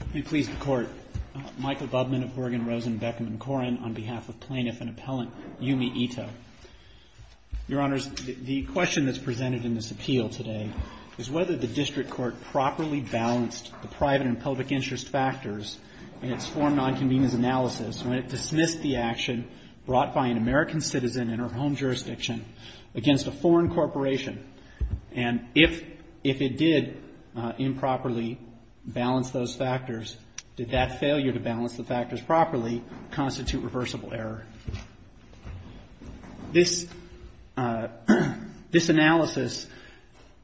Let me please the Court. Michael Bubman of Bergen Rosen Beckman Corin on behalf of Plaintiff and Appellant Yumi Ito. Your Honors, the question that's presented in this appeal today is whether the District Court properly balanced the private and public interest factors in its Foreign Nonconvenience Analysis when it dismissed the action brought by an American citizen in her home jurisdiction against a foreign corporation. And if it did improperly balance those factors, did that failure to balance the factors properly constitute reversible error? This analysis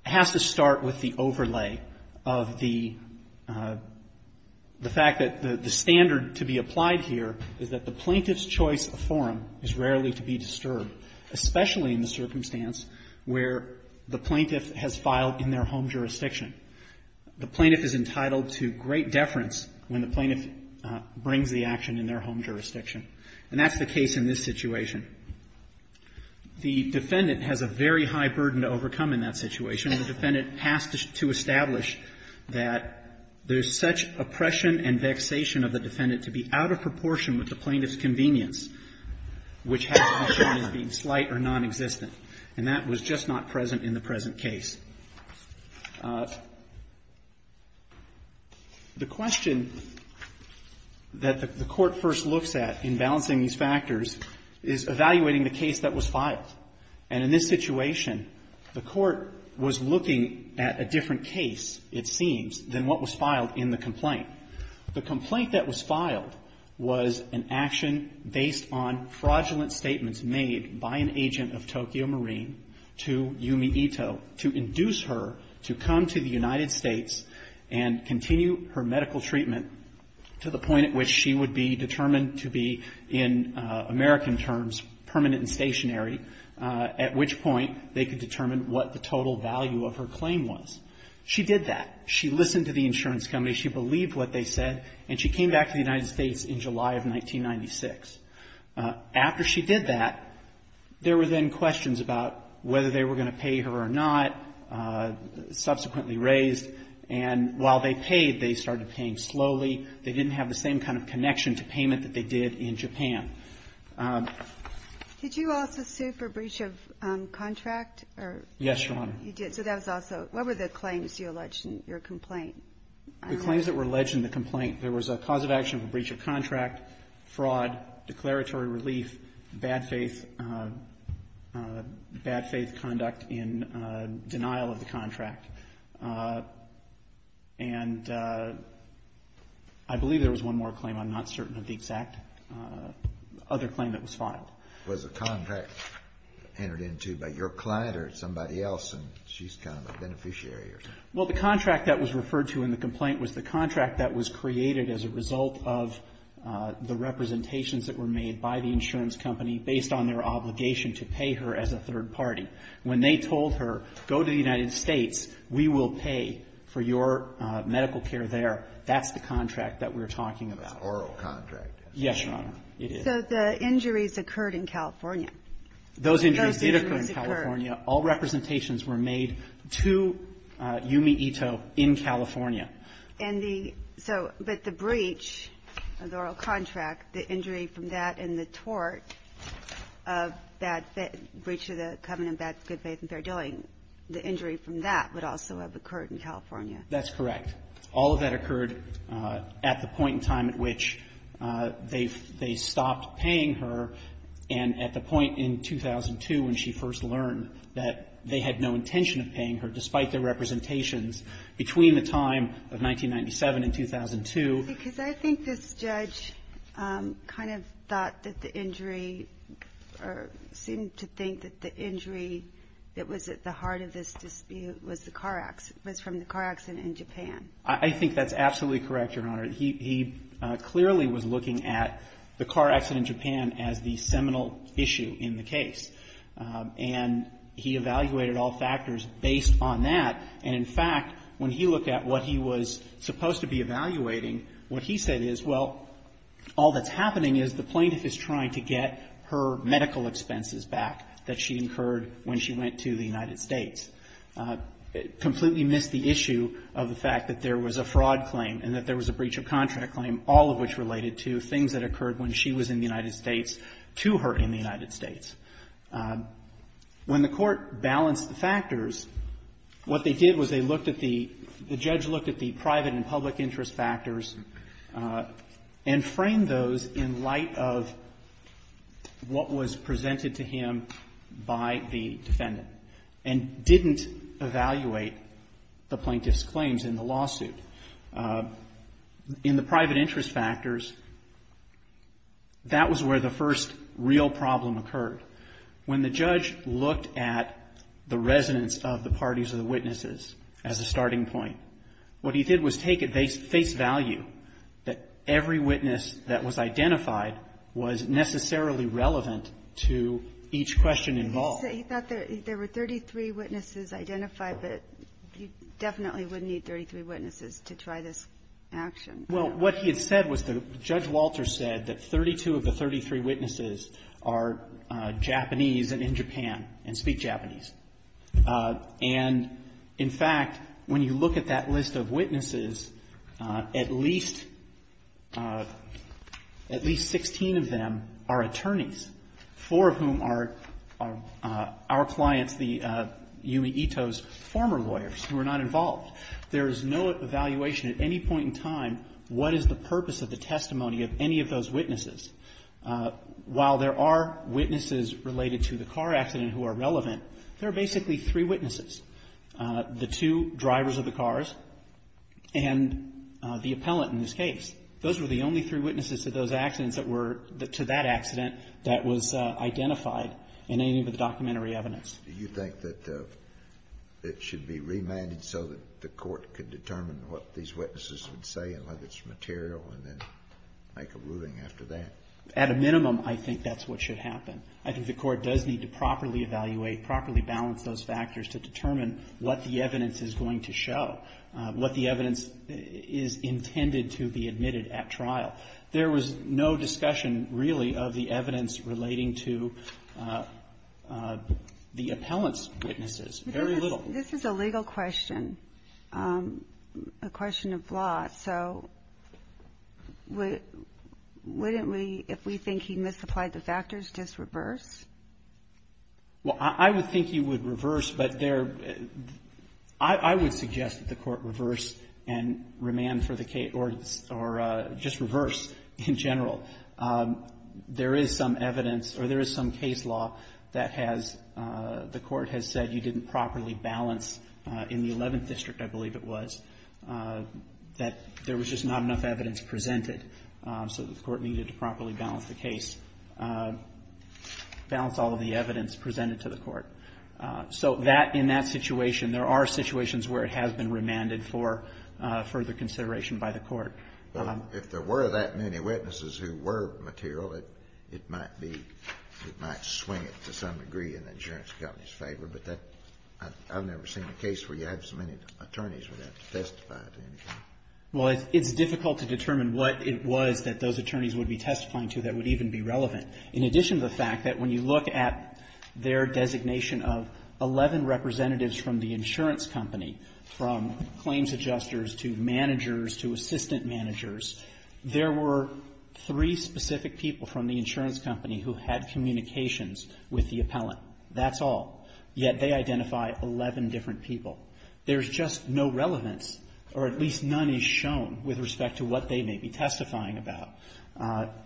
has to start with the overlay of the fact that the standard to be applied here is that the plaintiff's choice of forum is rarely to be disturbed, especially in the circumstance where the plaintiff has filed in their home jurisdiction. The plaintiff is entitled to great deference when the plaintiff brings the action in their home jurisdiction. And that's the case in this situation. The defendant has a very high burden to overcome in that situation, and the defendant has to establish that there's such oppression and vexation of the defendant to be out of proportion with the plaintiff's convenience, which has to be shown as being slight or nonexistent. And that was just not present in the present case. The question that the Court first looks at in balancing these factors is evaluating the case that was filed. And in this situation, the Court was looking at a different case, it seems, than what was filed in the complaint. The complaint that was filed was an action based on fraudulent statements made by an agent of Tokyo Marine to Yumi Ito to induce her to come to the United States and continue her medical treatment to the point at which she would be determined to be, in American terms, permanent and stationary, at which point they could determine what the total value of her claim was. She did that. She listened to the insurance company. She believed what they said. And she came back to the United States in July of 1996. After she did that, there were then questions about whether they were going to pay her or not, subsequently raised. And while they paid, they started paying slowly. They didn't have the same kind of connection to payment that they did in Japan. Did you also sue for breach of contract? Yes, Your Honor. You did. So that was also, what were the claims you alleged in your complaint? The claims that were alleged in the complaint, there was a cause of action of a breach of contract, fraud, declaratory relief, bad faith, bad faith conduct in denial of the contract. And I believe there was one more claim. I'm not certain of the exact other claim that was filed. Was the contract entered into by your client or somebody else and she's kind of a beneficiary or something? Well, the contract that was referred to in the complaint was the contract that was created as a result of the representations that were made by the insurance company based on their obligation to pay her as a third party. When they told her, go to the United States, we will pay for your medical care there, that's the contract that we're talking about. That's oral contract. Yes, Your Honor. It is. So the injuries occurred in California. Those injuries did occur in California. Those injuries occurred. All representations were made to Yumi Ito in California. And the so, but the breach of the oral contract, the injury from that and the tort of bad faith, breach of the covenant of good faith and fair dealing, the injury from that would also have occurred in California. That's correct. All of that occurred at the point in time at which they stopped paying her and at the point in 2002 when she first learned that they had no intention of paying her despite their representations between the time of 1997 and 2002. Because I think this judge kind of thought that the injury or seemed to think that the injury that was at the heart of this dispute was the car accident, was from the car accident in Japan. I think that's absolutely correct, Your Honor. He clearly was looking at the car accident in Japan as the seminal issue in the case. And he evaluated all factors based on that. And, in fact, when he looked at what he was supposed to be evaluating, what he said is, well, all that's happening is the plaintiff is trying to get her medical expenses back that she incurred when she went to the United States. Completely missed the issue of the fact that there was a fraud claim and that there was a breach of contract claim, all of which related to things that occurred when she was in the United States to her in the United States. When the Court balanced the factors, what they did was they looked at the — the judge looked at the private and public interest factors and framed those in light of what was presented to him by the defendant, and didn't evaluate the plaintiff's claims in the lawsuit. In the private interest factors, that was where the first real problem occurred. When the judge looked at the resonance of the parties of the witnesses as a starting point, what he did was take at face value that every witness that was identified was necessarily relevant to each question involved. He thought there were 33 witnesses identified, but you definitely wouldn't need 33 witnesses to try this action. Well, what he had said was the — Judge Walter said that 32 of the 33 witnesses are Japanese and in Japan and speak Japanese. And, in fact, when you look at that 16 of them are attorneys, four of whom are our clients, Yumi Ito's former lawyers who are not involved. There is no evaluation at any point in time what is the purpose of the testimony of any of those witnesses. While there are witnesses related to the car accident who are relevant, there are basically three witnesses, the two drivers of the cars and the appellant in this case, who are related to that accident that was identified in any of the documentary evidence. Do you think that it should be remanded so that the court could determine what these witnesses would say and whether it's material and then make a ruling after that? At a minimum, I think that's what should happen. I think the court does need to properly evaluate, properly balance those factors to determine what the evidence is going to show, what the evidence is intended to be admitted at trial. There was no discussion, really, of the evidence relating to the appellant's witnesses, very little. This is a legal question, a question of law. So wouldn't we, if we think he misapplied the factors, just reverse? Well, I would think you would reverse, but there – I would suggest that the court reverse and remand for the case, or just reverse in general. There is some evidence or there is some case law that has – the court has said you didn't properly balance in the Eleventh District, I believe it was, that there was just not enough evidence presented. So the court needed to properly balance the case, balance all of the evidence presented to the court. So that, in that situation, there are situations where it has been remanded for further consideration by the court. But if there were that many witnesses who were material, it might be – it might swing it to some degree in the insurance company's favor, but that – I've never seen a case where you have so many attorneys who have to testify to anything. Well, it's difficult to determine what it was that those attorneys would be testifying to that would even be relevant. In addition to the fact that when you look at their designation of 11 representatives from the insurance company, from claims adjusters to managers to assistant managers, there were three specific people from the insurance company who had communications with the appellant. That's all. Yet they identify 11 different people. There's just no relevance, or at least none is shown with respect to what they may be testifying about.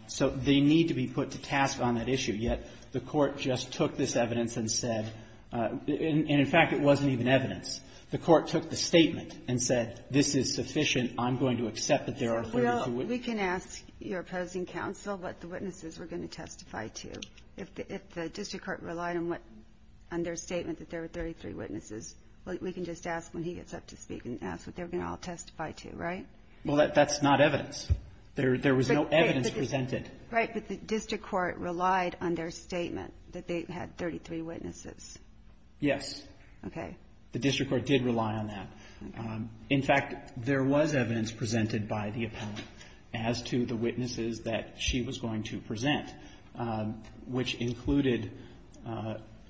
So they need to be put to task on that issue. Yet the court just took this evidence and said – and in fact, it wasn't even evidence. The court took the statement and said, this is sufficient. I'm going to accept that there are further two witnesses. So, Bill, we can ask your opposing counsel what the witnesses were going to testify to if the district court relied on their statement that there were 33 witnesses. We can just ask when he gets up to speak and ask what they were going to all testify to, right? Well, that's not evidence. There was no evidence presented. Right, but the district court relied on their statement that they had 33 witnesses. Yes. Okay. The district court did rely on that. In fact, there was evidence presented by the which included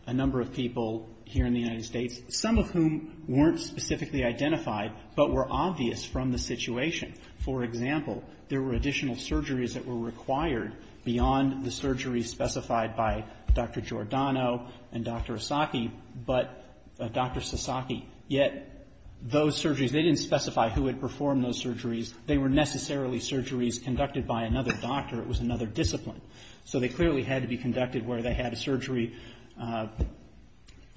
a number of people here in the United States, some of whom weren't specifically identified but were obvious from the situation. For example, there were additional surgeries that were required beyond the surgeries specified by Dr. Giordano and Dr. Asaki, but Dr. Sasaki. Yet those surgeries, they didn't specify who had performed those surgeries. They were necessarily surgeries conducted by another doctor. It was another discipline. So they clearly had to be conducted where they had a surgery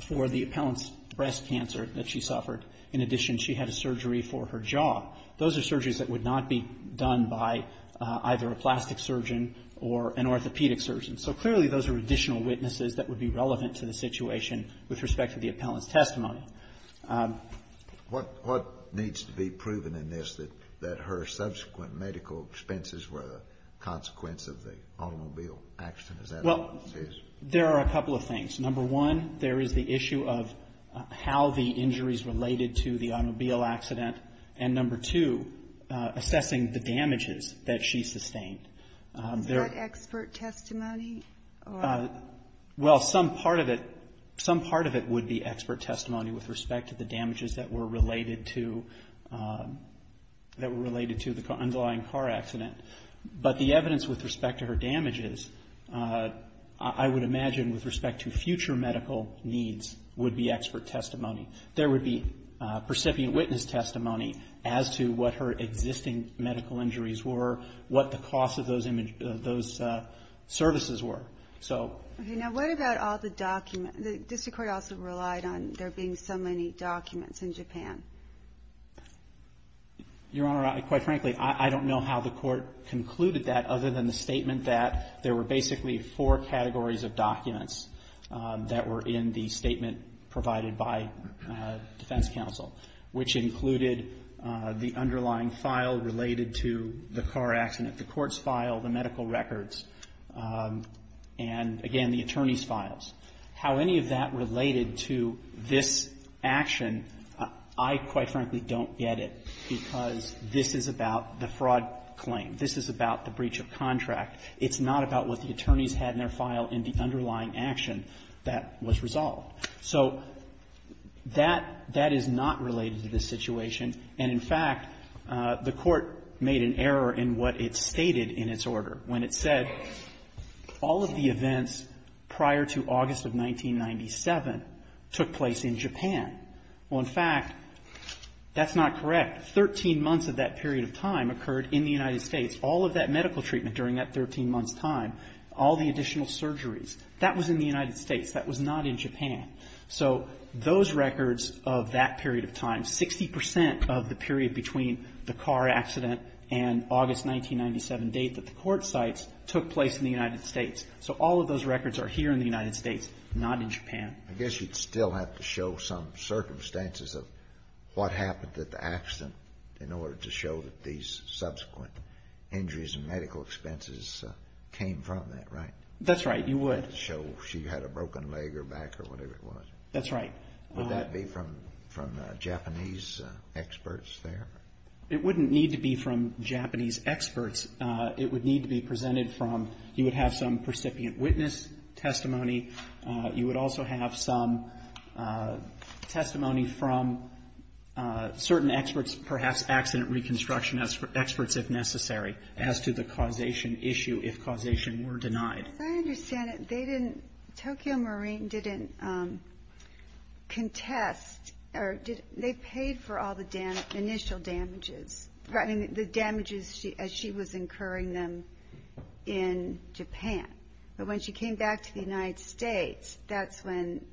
for the appellant's breast cancer that she suffered. In addition, she had a surgery for her jaw. Those are surgeries that would not be done by either a plastic surgeon or an orthopedic surgeon. So clearly those are additional witnesses that would be relevant to the situation with respect to the appellant's testimony. What needs to be proven in this that her subsequent medical expenses were a consequence of the automobile accident? Is that what this is? Well, there are a couple of things. Number one, there is the issue of how the injuries related to the automobile accident. And number two, assessing the damages that she sustained. Is that expert testimony? Well, some part of it, some part of it would be expert testimony with respect to the damages that were related to, that were related to the underlying car accident. But the evidence with respect to her damages, I would imagine with respect to future medical needs, would be expert testimony. There would be percipient witness testimony as to what her existing medical injuries were, what the cost of those services were. So. Okay. Now what about all the documents? The district court also relied on there being so many documents in Japan. Your Honor, quite frankly, I don't know how the court concluded that other than the statement that there were basically four categories of documents that were in the statement provided by defense counsel, which included the underlying file related to the car accident, the court's file, the medical records, and, again, the attorney's files. How any of that related to this action, I, quite frankly, don't get it because this is about the fraud claim. This is about the breach of contract. It's not about what the attorneys had in their file in the underlying action that was resolved. So that, that is not related to this situation. And, in fact, the court made an error in what it stated in its order when it said all of the events prior to August of 1997 took place in Japan. Well, in fact, that's not correct. Thirteen months of that period of time occurred in the United States. All of that medical treatment during that 13 months' time, all the additional surgeries, that was in the United States. That was not in Japan. So those records of that period of time, 60 percent of the period between the car accident and August 1997 date that the court cites took place in the United States. So all of those records are here in the United States, not in Japan. I guess you'd still have to show some circumstances of what happened at the accident in order to show that these subsequent injuries and medical expenses came from that, That's right. You would. to show she had a broken leg or back or whatever it was. That's right. Would that be from Japanese experts there? It wouldn't need to be from Japanese experts. It would need to be presented from you would have some precipient witness testimony. You would also have some testimony from certain experts, perhaps accident reconstruction experts if necessary, as to the causation issue if causation were denied. As I understand it, Tokyo Marine didn't contest or they paid for all the initial damages, the damages as she was incurring them in Japan. But when she came back to the United States, that's when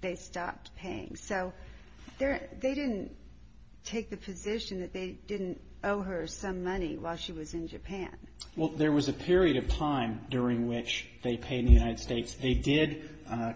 they stopped paying. So they didn't take the position that they didn't owe her some money while she was in Japan. Well, there was a period of time during which they paid in the United States. They did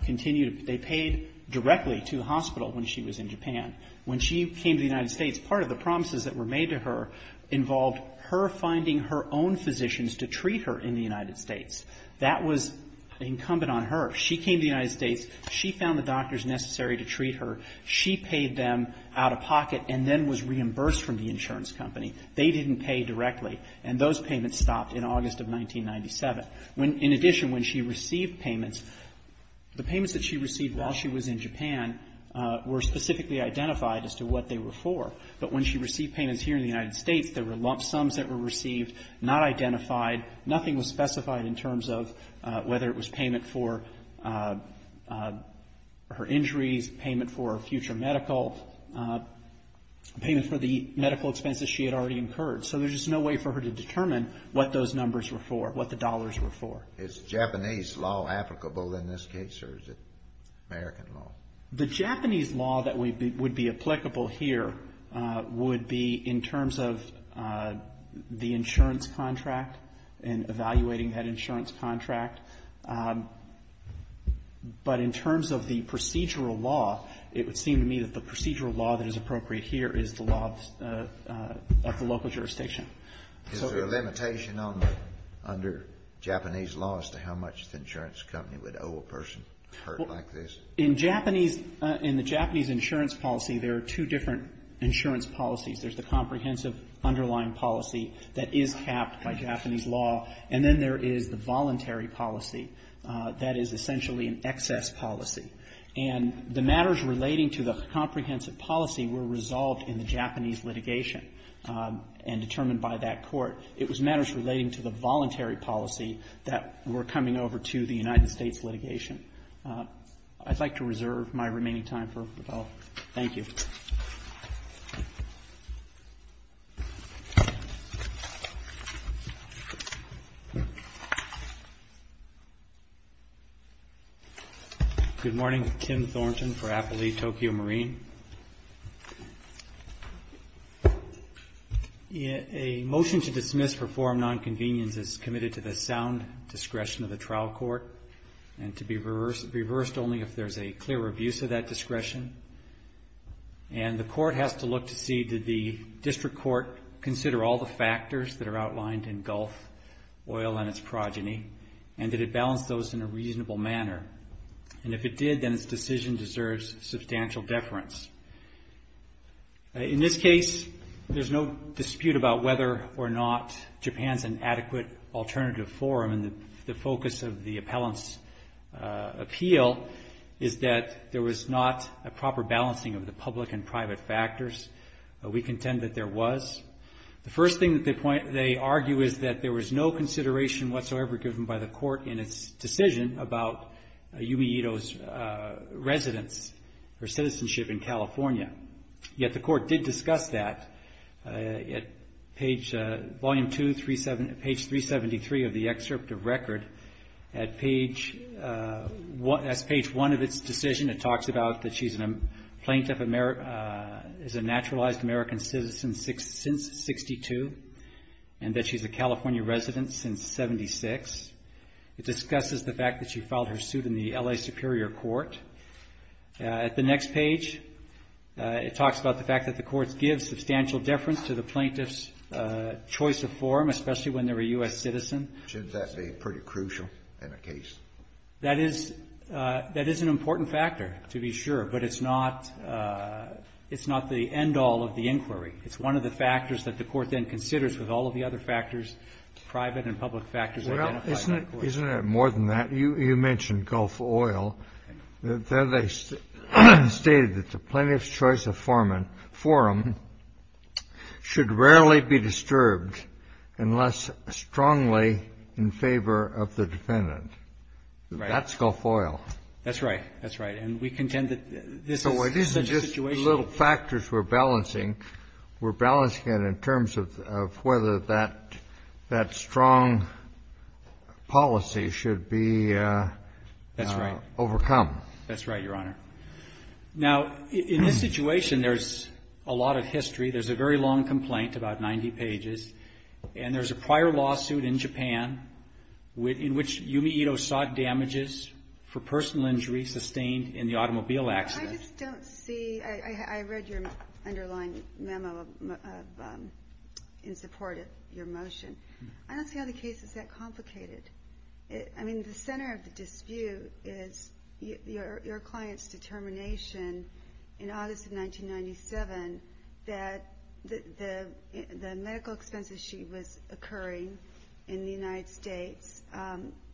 continue to pay. They paid directly to the hospital when she was in Japan. When she came to the United States, part of the promises that were made to her involved her finding her own physicians to treat her in the United States. That was incumbent on her. She came to the United States. She found the doctors necessary to treat her. She paid them out of pocket and then was reimbursed from the insurance company. They didn't pay directly. And those payments stopped in August of 1997. In addition, when she received payments, the payments that she received while she was in Japan were specifically identified as to what they were for. But when she received payments here in the United States, there were lump sums that were received, not identified. Nothing was specified in terms of whether it was payment for her injuries, payment for future medical, payment for the medical expenses she had already incurred. So there's just no way for her to determine what those numbers were for, what the dollars were for. Is Japanese law applicable in this case or is it American law? The Japanese law that would be applicable here would be in terms of the insurance contract and evaluating that insurance contract. But in terms of the procedural law, it would seem to me that the procedural law that is appropriate here is the law of the local jurisdiction. Is there a limitation under Japanese law as to how much the insurance company would owe a person hurt like this? In Japanese, in the Japanese insurance policy, there are two different insurance policies. There's the comprehensive underlying policy that is capped by Japanese law. And then there is the voluntary policy that is essentially an excess policy. And the matters relating to the comprehensive policy were resolved in the Japanese litigation and determined by that court. It was matters relating to the voluntary policy that were coming over to the United States litigation. I'd like to reserve my remaining time for rebuttal. Thank you. Thank you. Good morning. Tim Thornton for Appalachia Tokyo Marine. A motion to dismiss for forum nonconvenience is committed to the sound discretion of the trial court and to be reversed only if there's a clear abuse of that authority. And the court has to look to see did the district court consider all the factors that are outlined in Gulf Oil and its progeny and did it balance those in a reasonable manner. And if it did, then its decision deserves substantial deference. In this case, there's no dispute about whether or not Japan's inadequate alternative forum and the focus of the appellant's appeal is that there was not a public and private factors. We contend that there was. The first thing that they point, they argue is that there was no consideration whatsoever given by the court in its decision about Yumi Ito's residence or citizenship in California. Yet the court did discuss that at page, volume two, page 373 of the excerpt of record at page, that's page one of its decision. It talks about that she's a plaintiff, is a naturalized American citizen since 62 and that she's a California resident since 76. It discusses the fact that she filed her suit in the L.A. Superior Court. At the next page, it talks about the fact that the court gives substantial deference to the plaintiff's choice of forum, especially when they're a U.S. citizen. Should that be pretty crucial in a case? That is an important factor, to be sure, but it's not the end-all of the inquiry. It's one of the factors that the court then considers with all of the other factors, private and public factors identified by the court. Isn't it more than that? You mentioned Gulf Oil. They stated that the plaintiff's choice of forum should rarely be disturbed unless strongly in favor of the defendant. Right. That's Gulf Oil. That's right. That's right. And we contend that this is such a situation. So it isn't just little factors we're balancing. We're balancing it in terms of whether that strong policy should be overcome. That's right. Now, in this situation, there's a lot of history. There's a very long complaint, about 90 pages, and there's a prior lawsuit in Japan in which Yumi Ito sought damages for personal injury sustained in the automobile accident. I just don't see. I read your underlying memo in support of your motion. I don't see how the case is that complicated. I mean, the center of the dispute is your client's determination in August of 1997 that the medical expenses she was occurring in the United States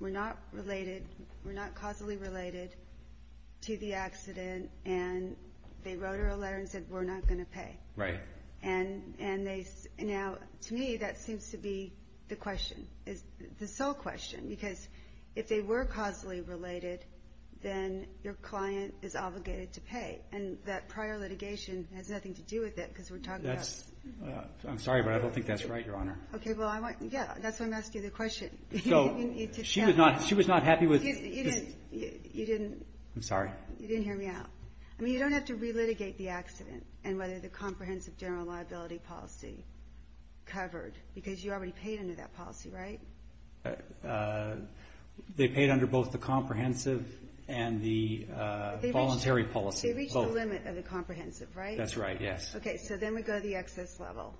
were not related, were not causally related to the accident, and they wrote her a letter and said we're not going to pay. Right. And now, to me, that seems to be the question, the sole question, because if they were causally related, then your client is obligated to pay. Right, and that prior litigation has nothing to do with it because we're talking about. I'm sorry, but I don't think that's right, Your Honor. Okay, well, yeah, that's why I'm asking the question. So she was not happy with. You didn't. I'm sorry. You didn't hear me out. I mean, you don't have to relitigate the accident and whether the comprehensive general liability policy covered, because you already paid under that policy, right? They paid under both the comprehensive and the voluntary policy. They reached the limit of the comprehensive, right? That's right, yes. Okay, so then we go to the excess level,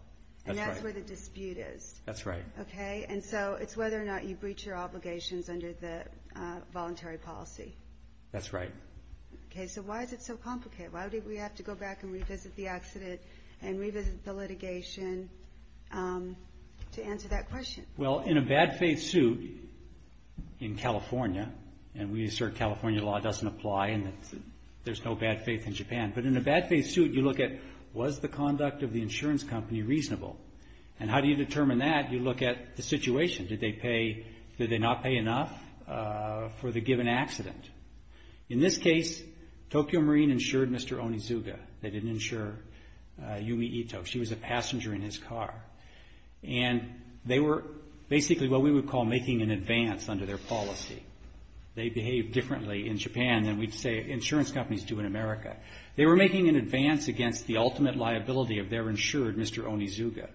and that's where the dispute is. That's right. Okay, and so it's whether or not you breach your obligations under the voluntary policy. That's right. Okay, so why is it so complicated? Why did we have to go back and revisit the accident and revisit the litigation to answer that question? Well, in a bad faith suit in California, and we assert California law doesn't apply and there's no bad faith in Japan, but in a bad faith suit you look at was the conduct of the insurance company reasonable, and how do you determine that? You look at the situation. Did they not pay enough for the given accident? In this case, Tokyo Marine insured Mr. Onizuga. They didn't insure Yumi Ito. She was a passenger in his car. And they were basically what we would call making an advance under their policy. They behaved differently in Japan than we'd say insurance companies do in America. They were making an advance against the ultimate liability of their insured, Mr. Onizuga,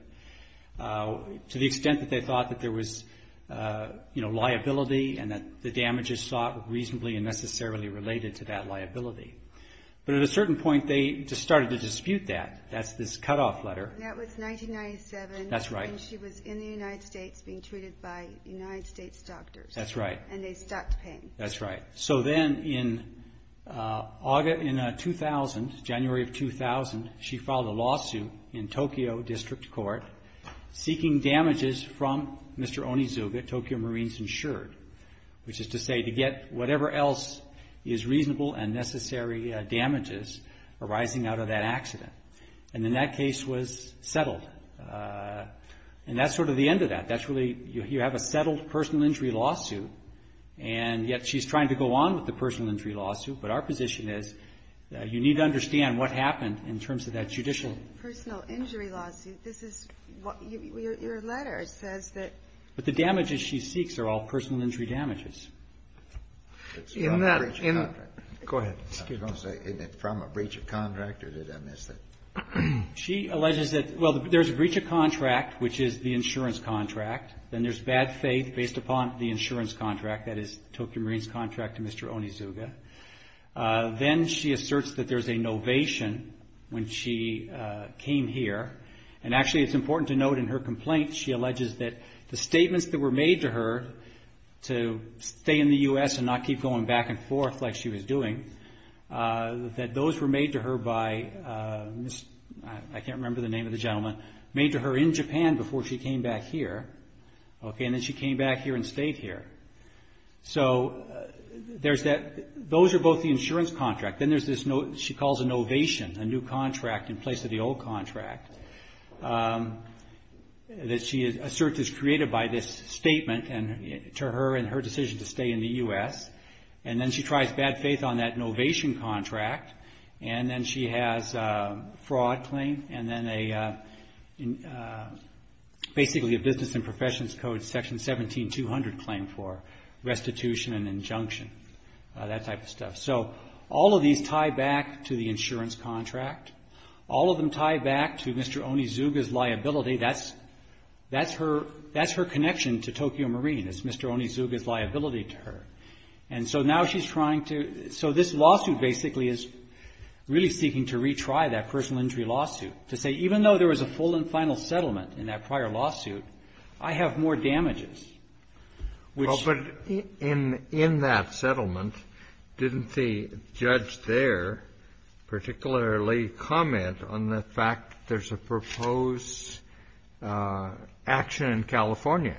to the extent that they thought that there was, you know, liability and that the damages sought were reasonably and necessarily related to that liability. But at a certain point they just started to dispute that. That's this cutoff letter. That was 1997. That's right. And she was in the United States being treated by United States doctors. That's right. And they stopped paying. That's right. So then in 2000, January of 2000, she filed a lawsuit in Tokyo District Court seeking damages from Mr. Onizuga, Tokyo Marines insured, which is to say to get whatever else is reasonable and necessary damages arising out of that accident. And then that case was settled. And that's sort of the end of that. That's really you have a settled personal injury lawsuit, and yet she's trying to go on with the personal injury lawsuit. But our position is you need to understand what happened in terms of that judicial. Personal injury lawsuit. This is what your letter says that. But the damages she seeks are all personal injury damages. In that. Go ahead. I was going to say, isn't it from a breach of contract or did I miss it? She alleges that, well, there's a breach of contract, which is the insurance contract. Then there's bad faith based upon the insurance contract. That is Tokyo Marines contract to Mr. Onizuga. Then she asserts that there's a novation when she came here. And actually it's important to note in her complaint she alleges that the statements that were made to her to stay in the U.S. and not keep going back and forth like she was doing, that those were made to her by, I can't remember the name of the gentleman, made to her in Japan before she came back here. And then she came back here and stayed here. So those are both the insurance contract. Then she calls a novation, a new contract in place of the old contract. A search is created by this statement to her and her decision to stay in the U.S. And then she tries bad faith on that novation contract. And then she has a fraud claim. And then basically a business and professions code section 17-200 claim for restitution and injunction. That type of stuff. So all of these tie back to the insurance contract. All of them tie back to Mr. Onizuga's liability. That's her connection to Tokyo Marine is Mr. Onizuga's liability to her. And so now she's trying to so this lawsuit basically is really seeking to retry that personal injury lawsuit. To say even though there was a full and final settlement in that prior lawsuit, I have more damages. Well, but in that settlement, didn't the judge there particularly comment on the fact that there's a proposed action in California,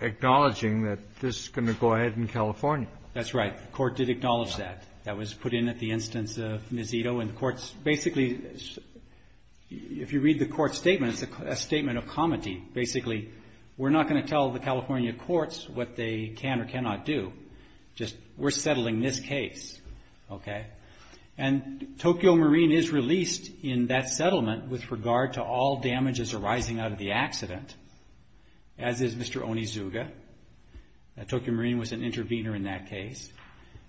acknowledging that this is going to go ahead in California? That's right. The court did acknowledge that. That was put in at the instance of Nezito. And the courts basically, if you read the court statement, it's a statement of comity. Basically, we're not going to tell the California courts what they can or cannot do. Just we're settling this case. And Tokyo Marine is released in that settlement with regard to all damages arising out of the accident, as is Mr. Onizuga. Tokyo Marine was an intervener in that case.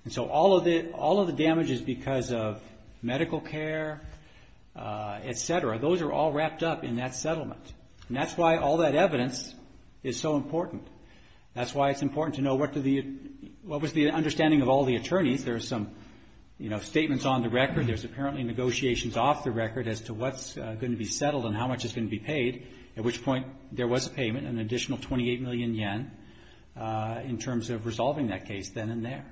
And so all of the damages because of medical care, et cetera, those are all wrapped up in that settlement. And that's why all that evidence is so important. That's why it's important to know what was the understanding of all the attorneys. There are some, you know, statements on the record. There's apparently negotiations off the record as to what's going to be settled and how much is going to be paid. At which point, there was a payment, an additional 28 million yen, in terms of resolving that case then and there.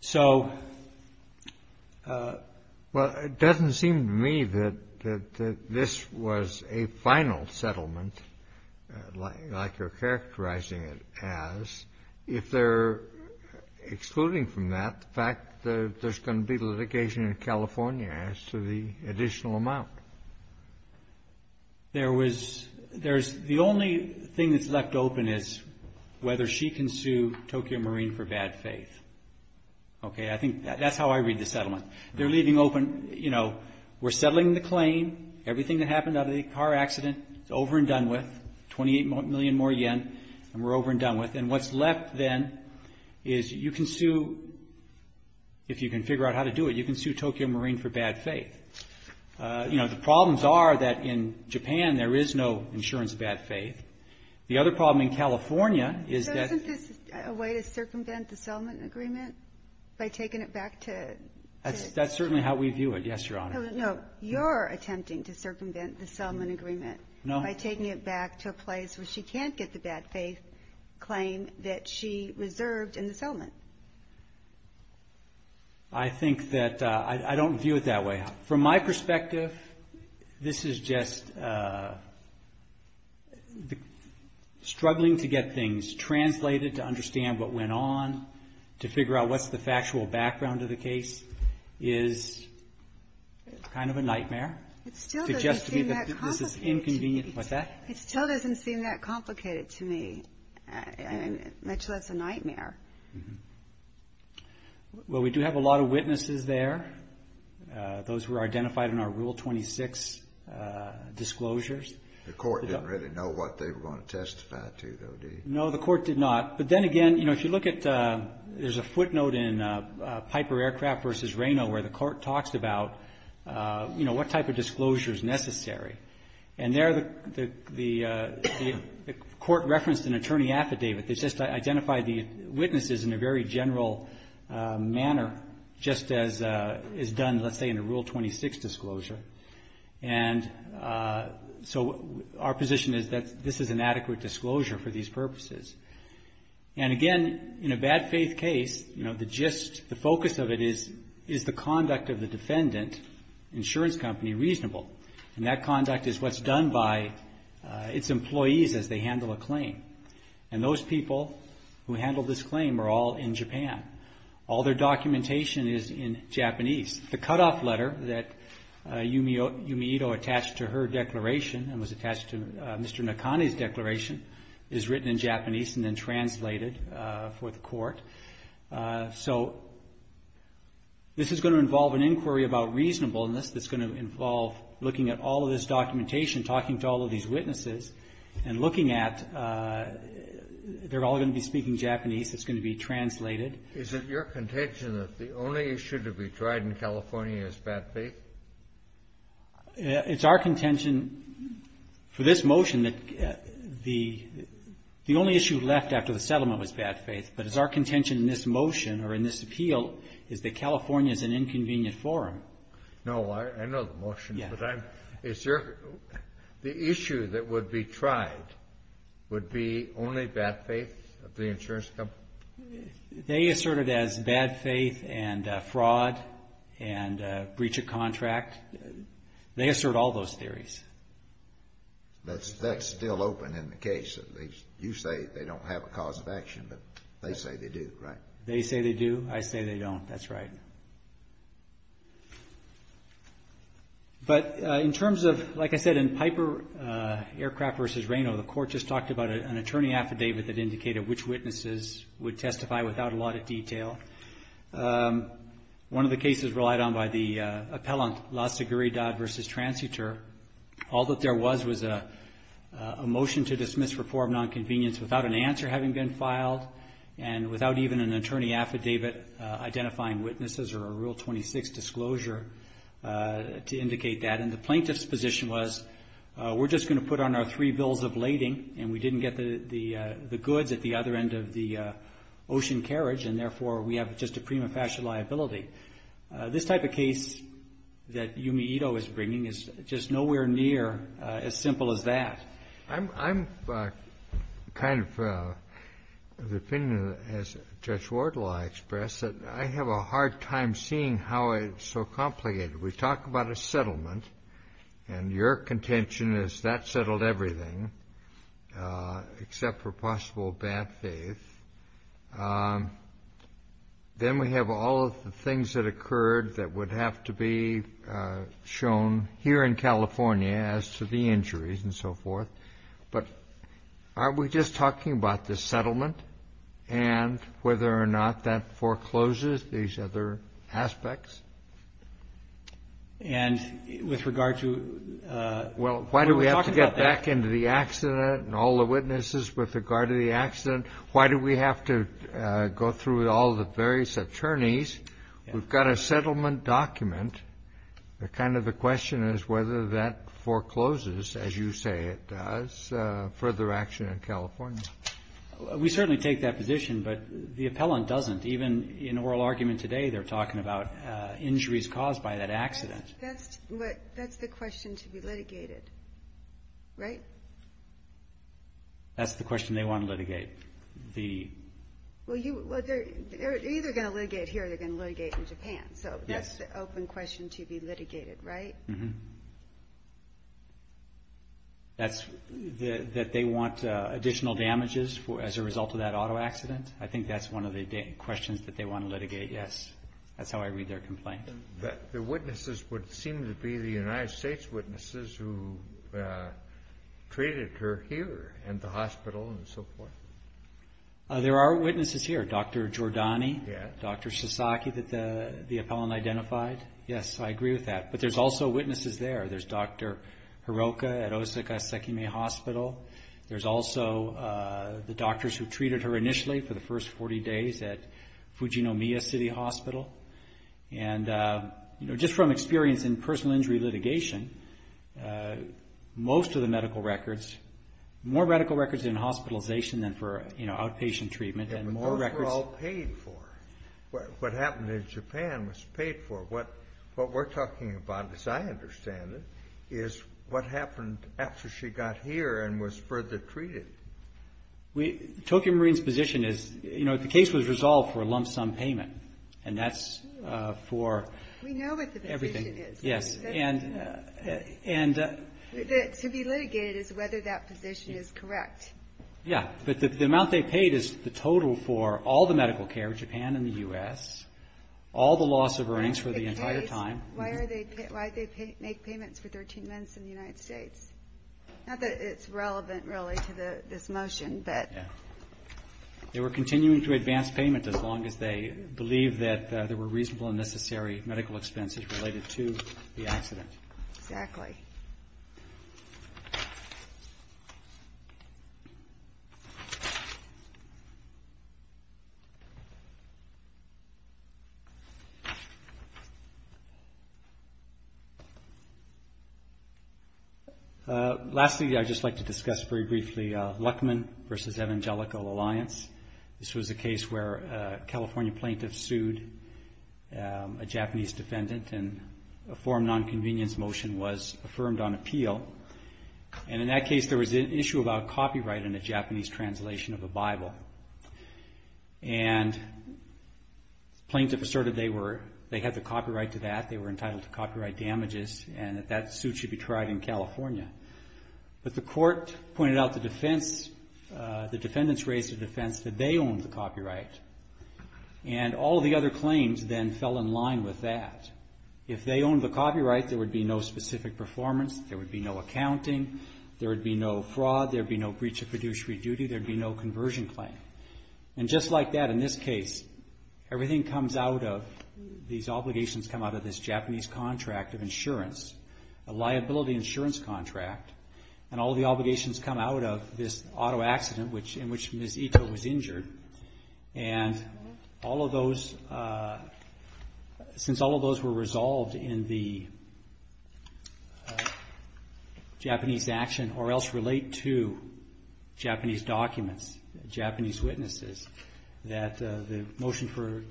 So... Well, it doesn't seem to me that this was a final settlement, like you're characterizing it as, if they're excluding from that the fact that there's going to be litigation in California as to the additional amount. There was, there's, the only thing that's left open is whether she can sue Tokyo Marine for bad faith. Okay? I think that's how I read the settlement. They're leaving open, you know, we're settling the claim, everything that happened out of the car accident, it's over and done with, 28 million more yen, and we're over and done with. And what's left then is you can sue, if you can figure out how to do it, you can sue Tokyo Marine for bad faith. You know, the problems are that in Japan there is no insurance of bad faith. The other problem in California is that... So isn't this a way to circumvent the settlement agreement, by taking it back to... That's certainly how we view it, yes, Your Honor. No, you're attempting to circumvent the settlement agreement... No. ...by taking it back to a place where she can't get the bad faith claim that she reserved in the settlement. I think that, I don't view it that way. From my perspective, this is just struggling to get things translated, to understand what went on, to figure out what's the factual background of the case, is kind of a nightmare. It still doesn't seem that complicated to me. Actually, that's a nightmare. Well, we do have a lot of witnesses there, those who were identified in our Rule 26 disclosures. The court didn't really know what they were going to testify to, though, did it? No, the court did not. But then again, if you look at, there's a footnote in Piper Aircraft v. Reno where the court talks about what type of disclosure is necessary. And there, the court referenced an attorney affidavit. They just identified the witnesses in a very general manner, just as is done, let's say, in a Rule 26 disclosure. And so our position is that this is an adequate disclosure for these purposes. And again, in a bad faith case, the focus of it is, is the conduct of the defendant, insurance company, reasonable? And that conduct is what's done by its employees as they handle a claim. And those people who handle this claim are all in Japan. All their documentation is in Japanese. The cutoff letter that Yumi Ito attached to her declaration and was attached to Mr. Nakane's declaration is written in Japanese and then translated for the court. So this is going to involve an inquiry about reasonableness. This is going to involve looking at all of this documentation, talking to all of these witnesses, and looking at, they're all going to be speaking Japanese. It's going to be translated. Is it your contention that the only issue to be tried in California is bad faith? It's our contention for this motion that the only issue left after the settlement was bad faith. Our contention in this motion or in this appeal is that California is an inconvenient forum. No, I know the motion, but I'm, is there, the issue that would be tried would be only bad faith of the insurance company? They assert it as bad faith and fraud and breach of contract. They assert all those theories. That's still open in the case. You say they don't have a cause of action, but they say they do, right? They say they do, I say they don't. That's right. But in terms of, like I said, in Piper Aircraft versus Reno, the court just talked about an attorney affidavit that indicated which witnesses would testify without a lot of detail. All that there was was a motion to dismiss reform nonconvenience without an answer having been filed and without even an attorney affidavit identifying witnesses or a Rule 26 disclosure to indicate that. And the plaintiff's position was, we're just going to put on our three bills of lading, and we didn't get the goods at the other end of the ocean carriage, and therefore we have just a prima facie liability. This type of case that Yumi Ito is bringing is just nowhere near as simple as that. I'm kind of of the opinion, as Judge Wardlaw expressed, that I have a hard time seeing how it's so complicated. We talk about a settlement, and your contention is that settled everything except for possible bad faith. Then we have all of the things that occurred that would have to be shown here in California as to the injuries and so forth. But are we just talking about the settlement and whether or not that forecloses these other aspects? And with regard to... Well, why do we have to get back into the accident and all the witnesses with regard to the accident? Why do we have to go through all the various attorneys? We've got a settlement document. The kind of the question is whether that forecloses, as you say it does, further action in California. We certainly take that position, but the appellant doesn't. Even in oral argument today, they're talking about injuries caused by that accident. That's the question to be litigated, right? That's the question they want to litigate. They're either going to litigate here or they're going to litigate in Japan. So that's the open question to be litigated, right? That's that they want additional damages as a result of that auto accident. I think that's one of the questions that they want to litigate, yes. That's how I read their complaint. The witnesses would seem to be the United States witnesses who treated her here in the hospital and so forth. There are witnesses here, Dr. Giordani, Dr. Sasaki that the appellant identified. Yes, I agree with that, but there's also witnesses there. There's Dr. Hiroka at Osaka Sekime Hospital. There's also the doctors who treated her initially for the first 40 days at Fujinomiya City Hospital. Just from experience in personal injury litigation, most of the medical records, more medical records in hospitalization than for outpatient treatment. Those were all paid for. What happened in Japan was paid for. What we're talking about, as I understand it, is what happened after she got here and was further treated. Tokyo Marine's position is the case was resolved for a lump sum payment, and that's for everything. To be litigated is whether that position is correct. Yes, but the amount they paid is the total for all the medical care in Japan and the U.S., all the loss of earnings for the entire time. Why did they make payments for 13 months in the United States? Not that it's relevant, really, to this motion. They were continuing to advance payment as long as they believed that there were reasonable and necessary medical expenses related to the accident. Lastly, I'd just like to discuss very briefly Luckman v. Evangelical Alliance. This was a case where a California plaintiff sued a Japanese defendant, and a form of nonconvenience motion was affirmed on appeal. In that case, there was an issue about copyright in a Japanese translation of a Bible. The plaintiff asserted they had the copyright to that, they were entitled to copyright damages, and that that suit should be tried in California. The defendants raised a defense that they owned the copyright, and all the other claims then fell in line with that. If they owned the copyright, there would be no specific performance, there would be no accounting, there would be no fraud, there would be no breach of fiduciary duty, there would be no conversion claim. And just like that, in this case, everything comes out of, these obligations come out of this Japanese contract of insurance, a liability insurance contract, and all the obligations come out of this auto accident in which Ms. Ito was injured. And all of those, since all of those were resolved in the Japanese action, or else relate to Japanese documents, Japanese witnesses, that the motion for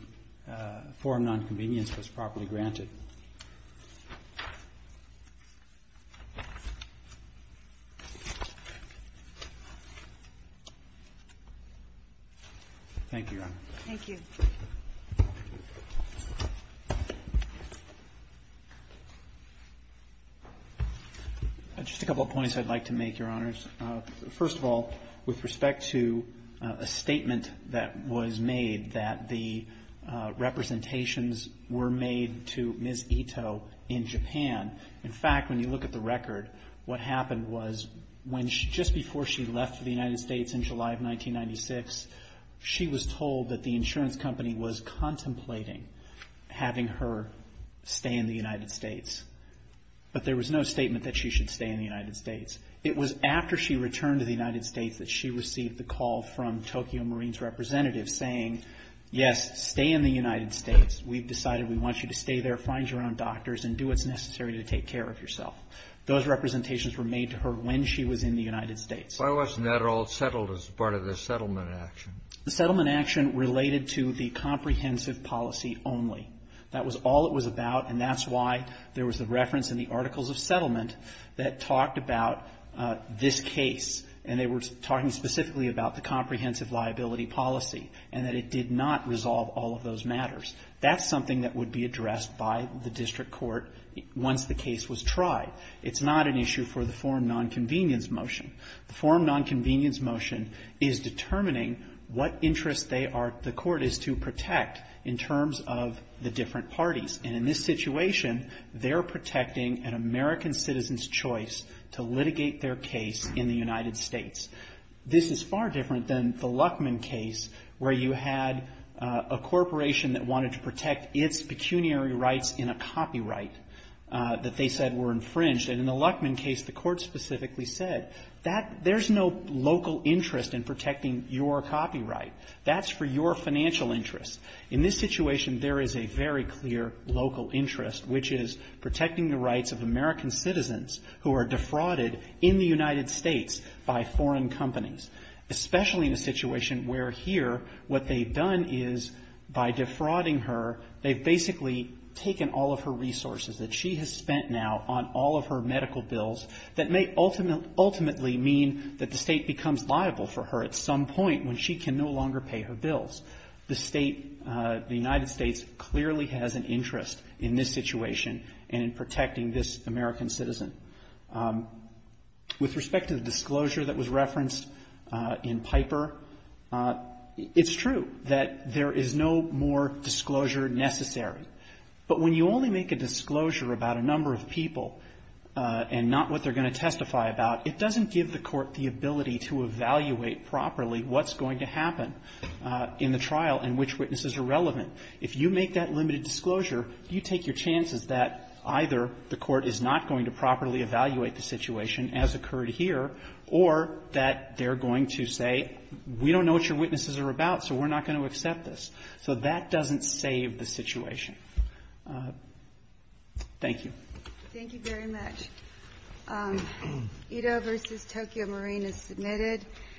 a form of nonconvenience was properly granted. Thank you, Your Honor. Just a couple of points I'd like to make, Your Honors. First of all, with respect to a statement that was made that the representations were made to Ms. Ito in Japan, in fact, when you look at the record, what happened was just before she left the United States in July of 1996, she was told that the insurance company was contemplating having her stay in the United States. But there was no statement that she should stay in the United States. It was after she returned to the United States that she received the call from Tokyo Marines representatives saying, yes, stay in the United States, we've decided we want you to stay there, find your own doctors, and do what's necessary to take care of yourself. Those representations were made to her when she was in the United States. The settlement action related to the comprehensive policy only. That was all it was about, and that's why there was a reference in the Articles of Settlement that talked about this case, and they were talking specifically about the comprehensive liability policy, and that it did not resolve all of those matters. That's something that would be addressed by the district court once the case was tried. It's not an issue for the form nonconvenience motion. The form nonconvenience motion is determining what interest they are, the court is to protect, in terms of the different parties. And in this situation, they're protecting an American citizen's choice to litigate their case in the United States. This is far different than the Luckman case where you had a corporation that wanted to protect its pecuniary rights in a copyright that they said were infringed. And in the Luckman case, the court specifically said that there's no local interest in protecting your copyright. That's for your financial interests. In this situation, there is a very clear local interest, which is protecting the rights of American citizens who are defrauded in the United States by foreign companies, especially in a situation where here what they've done is, by defrauding her, they've basically taken all of her resources that she has spent now on all of her medical bills that may ultimately mean that the State becomes liable for her at some point when she can no longer pay her bills. The State, the United States clearly has an interest in this situation and in protecting this American citizen. With respect to the disclosure that was referenced in Piper, it's true that there is no more disclosure necessary. But when you only make a disclosure about a number of people and not what they're going to testify about, it doesn't give the court the ability to evaluate properly what's going to happen in the trial and which witnesses are relevant. If you make that limited disclosure, you take your chances that either the court is not going to properly evaluate the situation as occurred here or that they're going to say, we don't know what your witnesses are about, so we're not going to accept this. So that doesn't save the situation. Thank you. Thank you very much. Ito v. Tokyo Marine is submitted.